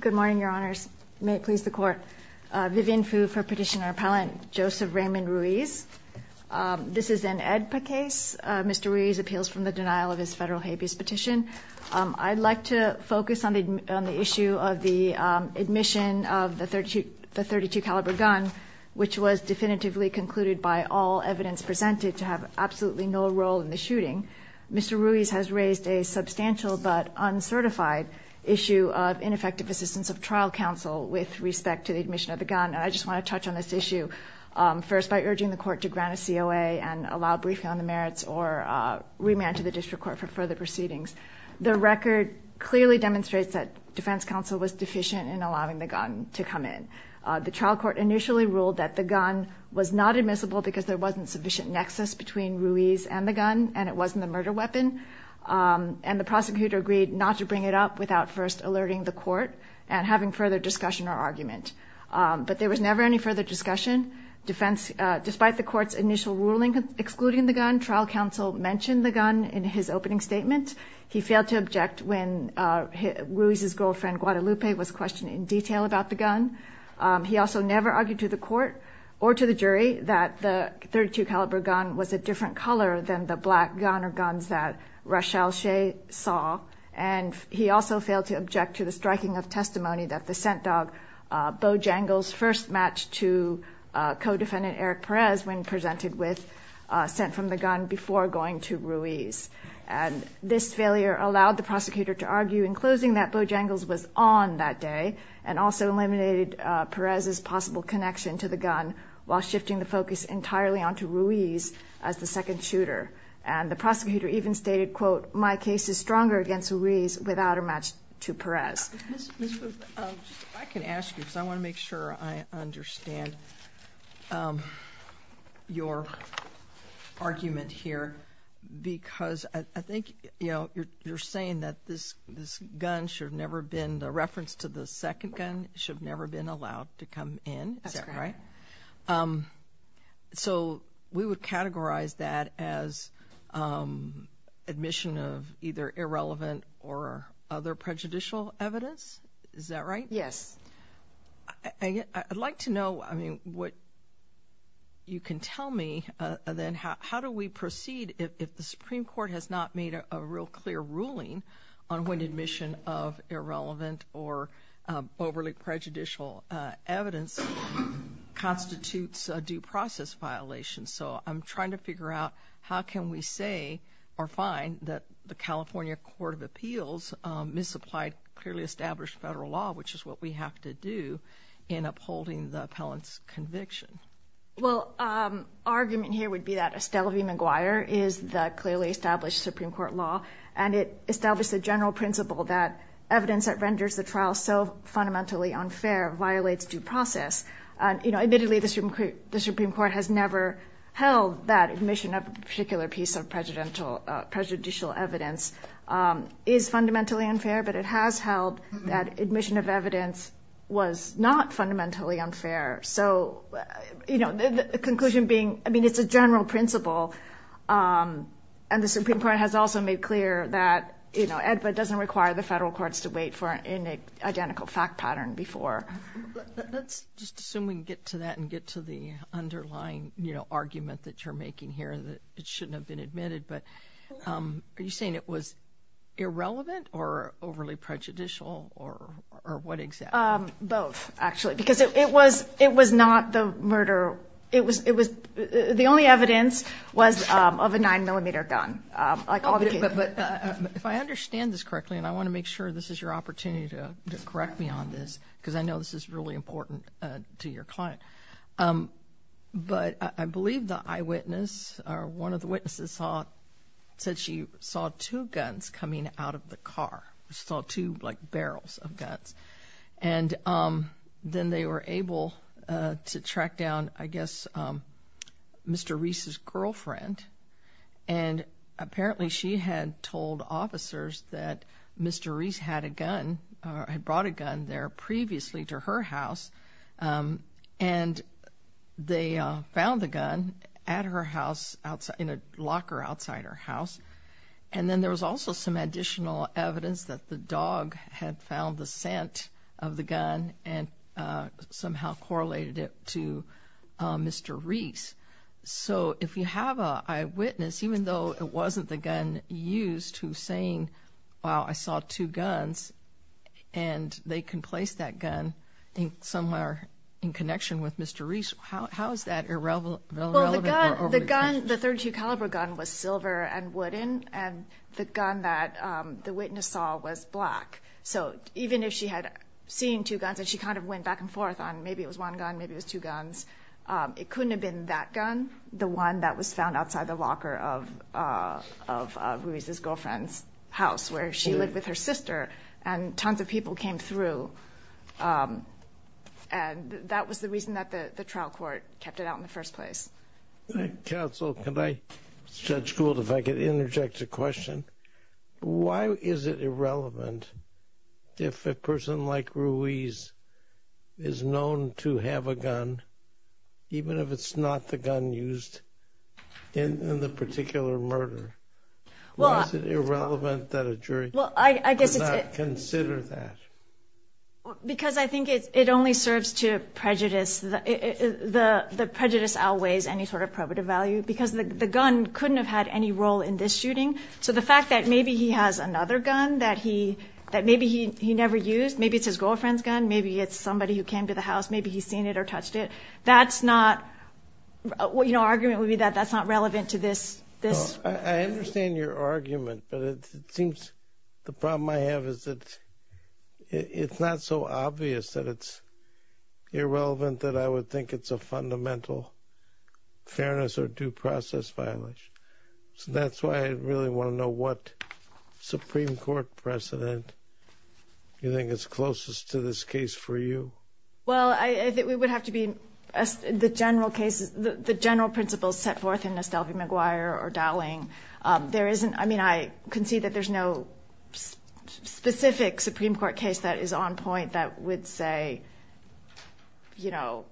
Good morning, Your Honors. May it please the Court. Vivian Fu for Petitioner-Appellant Joseph Raymond Ruiz. This is an AEDPA case. Mr. Ruiz appeals from the denial of his federal habeas petition. I'd like to focus on the issue of the admission of the .32 caliber gun, which was definitively concluded by all evidence presented to have absolutely no role in the shooting. Mr. Ruiz has raised a substantial but uncertified issue of ineffective assistance of trial counsel with respect to the admission of the gun. And I just want to touch on this issue first by urging the Court to grant a COA and allow briefing on the merits or remand to the district court for further proceedings. The record clearly demonstrates that defense counsel was deficient in allowing the gun to come in. The trial court initially ruled that the gun was not admissible because there wasn't sufficient nexus between Ruiz and the gun and it wasn't the murder weapon. And the prosecutor agreed not to bring it up without first alerting the court and having further discussion or argument. But there was never any further discussion. Despite the court's initial ruling excluding the gun, trial counsel mentioned the gun in his opening statement. He failed to object when Ruiz's girlfriend, Guadalupe, was questioned in detail about the gun. He also never argued to the court or to the jury that the .32 caliber gun was a different color than the black gun or guns that Rochelle Shea saw. And he also failed to object to the striking of testimony that the scent dog, Bo Jangles, first matched to co-defendant Eric Perez when presented with scent from the gun before going to Ruiz. And this failure allowed the prosecutor to argue in closing that Bo Jangles was on that day and also eliminated Perez's possible connection to the gun while shifting the focus entirely onto Ruiz as the second shooter. And the prosecutor even stated, quote, my case is stronger against Ruiz without a match to Perez. I can ask you because I want to make sure I understand your argument here because I think, you know, you're saying that this gun should have never been, the reference to the second gun should have never been allowed to come in, is that right? That's correct. So we would categorize that as admission of either irrelevant or other prejudicial evidence, is that right? Yes. I'd like to know, I mean, what you can tell me then how do we proceed if the Supreme Court has not made a real clear ruling on when admission of irrelevant or overly prejudicial evidence constitutes a due process violation? So I'm trying to figure out how can we say or find that the California Court of Appeals misapplied clearly established federal law, which is what we have to do in upholding the appellant's conviction. Well, our argument here would be that Estelle v. McGuire is the clearly established Supreme Court law and it established the general principle that evidence that renders the trial so fundamentally unfair violates due process. You know, admittedly, the Supreme Court has never held that admission of a particular piece of prejudicial evidence is fundamentally unfair, but it has held that admission of evidence was not fundamentally unfair. So, you know, the conclusion being, I mean, it's a general principle. And the Supreme Court has also made clear that, you know, it doesn't require the federal courts to wait for an identical fact pattern before. Let's just assume we can get to that and get to the underlying, you know, argument that you're making here that it shouldn't have been admitted. But are you saying it was irrelevant or overly prejudicial or what exactly? Both, actually, because it was not the murder. It was the only evidence was of a nine millimeter gun. But if I understand this correctly, and I want to make sure this is your opportunity to correct me on this, because I know this is really important to your client. But I believe the eyewitness or one of the witnesses said she saw two guns coming out of the car. Saw two, like, barrels of guns. And then they were able to track down, I guess, Mr. Reese's girlfriend. And apparently she had told officers that Mr. Reese had a gun or had brought a gun there previously to her house. And they found the gun at her house, in a locker outside her house. And then there was also some additional evidence that the dog had found the scent of the gun and somehow correlated it to Mr. Reese. So if you have an eyewitness, even though it wasn't the gun used, who's saying, wow, I saw two guns, and they can place that gun somewhere in connection with Mr. Reese, how is that irrelevant? Well, the gun, the .32 caliber gun was silver and wooden, and the gun that the witness saw was black. So even if she had seen two guns and she kind of went back and forth on maybe it was one gun, maybe it was two guns, it couldn't have been that gun, the one that was found outside the locker of Reese's girlfriend's house, where she lived with her sister, and tons of people came through. And that was the reason that the trial court kept it out in the first place. Counsel, can I, Judge Gould, if I could interject a question? Why is it irrelevant if a person like Reese is known to have a gun, even if it's not the gun used in the particular murder? Why is it irrelevant that a jury does not consider that? Because I think it only serves to prejudice. The prejudice outweighs any sort of probative value because the gun couldn't have had any role in this shooting. So the fact that maybe he has another gun that maybe he never used, maybe it's his girlfriend's gun, maybe it's somebody who came to the house, maybe he's seen it or touched it. That's not, you know, argument would be that that's not relevant to this. I understand your argument, but it seems the problem I have is that it's not so obvious that it's irrelevant that I would think it's a fundamental fairness or due process violation. So that's why I really want to know what Supreme Court precedent you think is closest to this case for you. Well, I think we would have to be, the general cases, the general principles set forth in Nestelvi-McGuire or Dowling. There isn't, I mean, I can see that there's no specific Supreme Court case that is on point that would say, you know,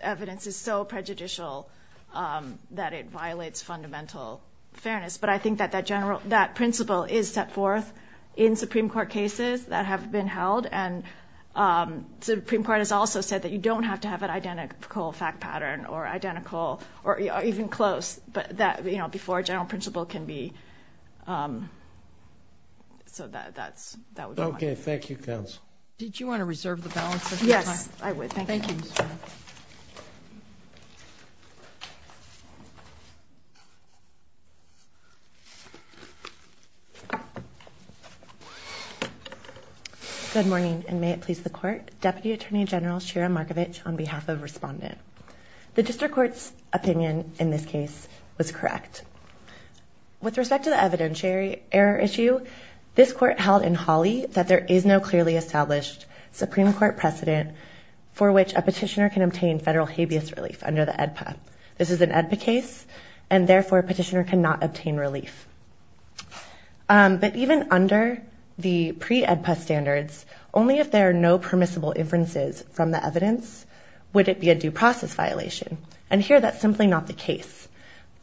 evidence is so prejudicial that it violates fundamental fairness. But I think that that general, that principle is set forth in Supreme Court cases that have been held. And the Supreme Court has also said that you don't have to have an identical fact pattern or identical or even close, but that, you know, before a general principle can be. So that's that. OK, thank you, counsel. Did you want to reserve the balance? Yes, I would. Thank you. Good morning, and may it please the court. Deputy Attorney General Shira Markovich on behalf of Respondent. The district court's opinion in this case was correct. With respect to the evidentiary error issue, this court held in Hawley that there is no clearly established Supreme Court precedent for which a petitioner can obtain federal habeas relief under the EDPA. This is an EDPA case, and therefore a petitioner cannot obtain relief. But even under the pre-EDPA standards, only if there are no permissible inferences from the evidence would it be a due process violation. And here that's simply not the case.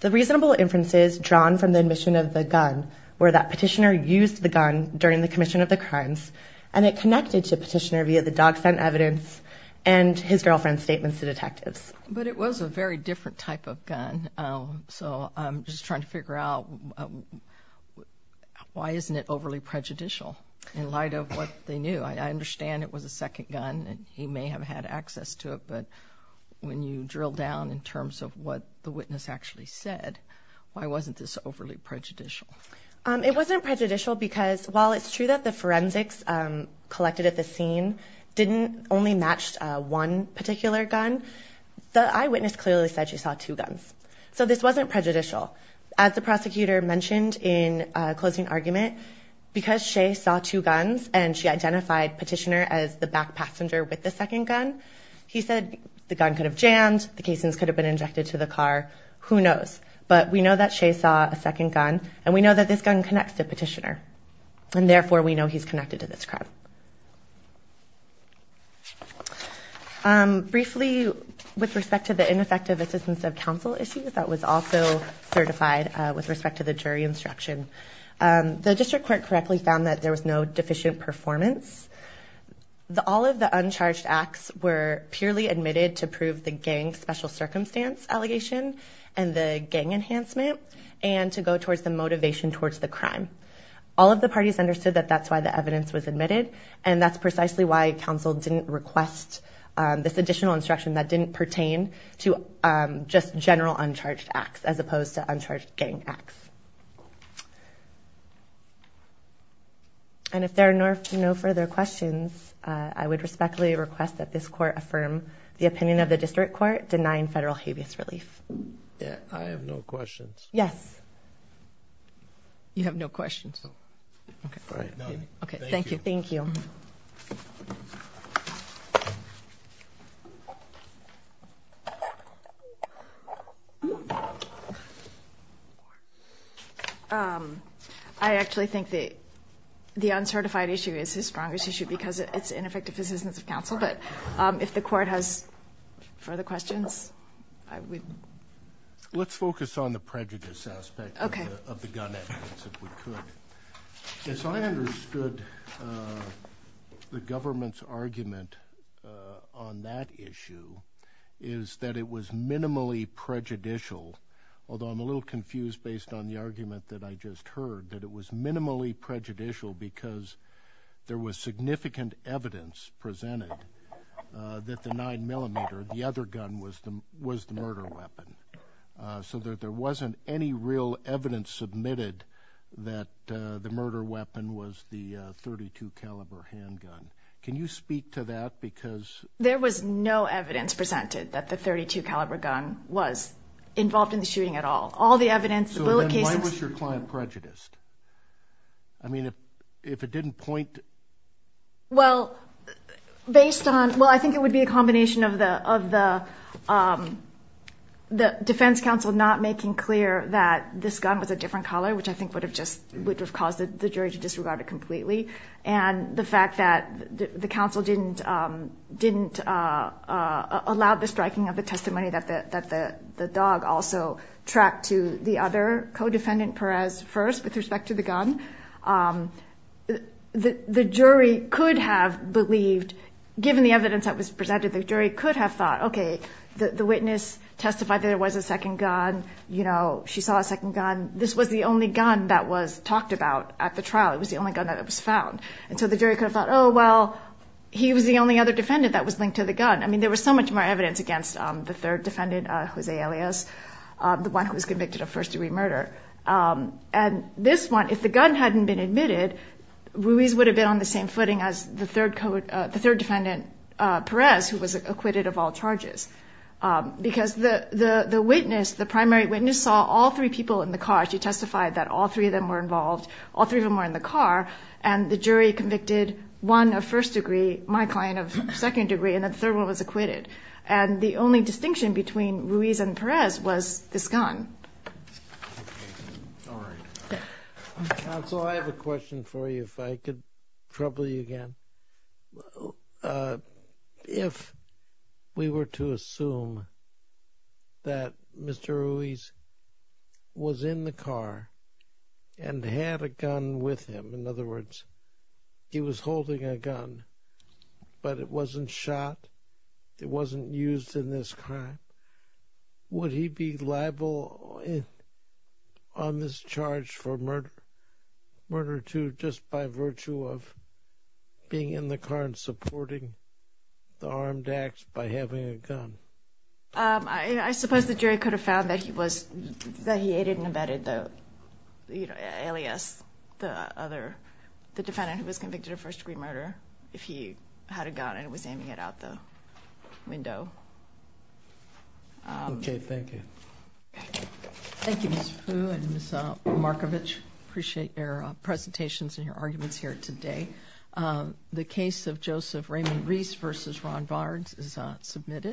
The reasonable inferences drawn from the admission of the gun were that petitioner used the gun during the commission of the crimes and it connected to petitioner via the dog scent evidence and his girlfriend's statements to detectives. But it was a very different type of gun, so I'm just trying to figure out why isn't it overly prejudicial in light of what they knew. I understand it was a second gun and he may have had access to it, but when you drill down in terms of what the witness actually said, why wasn't this overly prejudicial? It wasn't prejudicial because while it's true that the forensics collected at the scene didn't only match one particular gun, the eyewitness clearly said she saw two guns. So this wasn't prejudicial. As the prosecutor mentioned in closing argument, because Shea saw two guns and she identified petitioner as the back passenger with the second gun, he said the gun could have jammed, the casings could have been injected to the car, who knows. But we know that Shea saw a second gun and we know that this gun connects to petitioner and therefore we know he's connected to this crime. Briefly, with respect to the ineffective assistance of counsel issues, that was also certified with respect to the jury instruction. The district court correctly found that there was no deficient performance. All of the uncharged acts were purely admitted to prove the gang special circumstance allegation and the gang enhancement and to go towards the motivation towards the crime. All of the parties understood that that's why the evidence was admitted and that's precisely why counsel didn't request this additional instruction that didn't pertain to just general uncharged acts as opposed to uncharged gang acts. And if there are no further questions, I would respectfully request that this court affirm the opinion of the district court denying federal habeas relief. I have no questions. Yes. You have no questions. Okay. Thank you. Thank you. I actually think the uncertified issue is his strongest issue because it's ineffective assistance of counsel, but if the court has further questions, I would. Let's focus on the prejudice aspect of the gun evidence if we could. As I understood the government's argument on that issue is that it was minimally prejudicial, although I'm a little confused based on the argument that I just heard, that it was minimally prejudicial because there was significant evidence presented that the 9mm, the other gun, was the murder weapon, so that there wasn't any real evidence submitted that the murder weapon was the .32 caliber handgun. Can you speak to that? There was no evidence presented that the .32 caliber gun was involved in the shooting at all. All the evidence, the bullet cases— So then why was your client prejudiced? I mean, if it didn't point— Well, based on—well, I think it would be a combination of the defense counsel not making clear that this gun was a different color, which I think would have just—would have caused the jury to disregard it completely, and the fact that the counsel didn't allow the striking of the testimony that the dog also tracked to the other co-defendant, Perez, first with respect to the gun, the jury could have believed, given the evidence that was presented, the jury could have thought, okay, the witness testified that it was a second gun. She saw a second gun. This was the only gun that was talked about at the trial. It was the only gun that was found. And so the jury could have thought, oh, well, he was the only other defendant that was linked to the gun. I mean, there was so much more evidence against the third defendant, Jose Elias, the one who was convicted of first-degree murder. And this one, if the gun hadn't been admitted, Ruiz would have been on the same footing as the third defendant, Perez, who was acquitted of all charges because the witness, the primary witness, saw all three people in the car. She testified that all three of them were involved. All three of them were in the car, and the jury convicted one of first-degree, my client of second-degree, and the third one was acquitted. And the only distinction between Ruiz and Perez was this gun. Counsel, I have a question for you if I could trouble you again. If we were to assume that Mr. Ruiz was in the car and had a gun with him, in other words, he was holding a gun, but it wasn't shot, it wasn't used in this crime, would he be liable on this charge for murder two just by virtue of being in the car and supporting the armed acts by having a gun? I suppose the jury could have found that he aided and abetted Elias, the defendant who was convicted of first-degree murder, if he had a gun and was aiming it out the window. Okay, thank you. Thank you, Ms. Fu and Ms. Markovich. I appreciate your presentations and your arguments here today. The case of Joseph Raymond Ruiz v. Ron Barnes is submitted.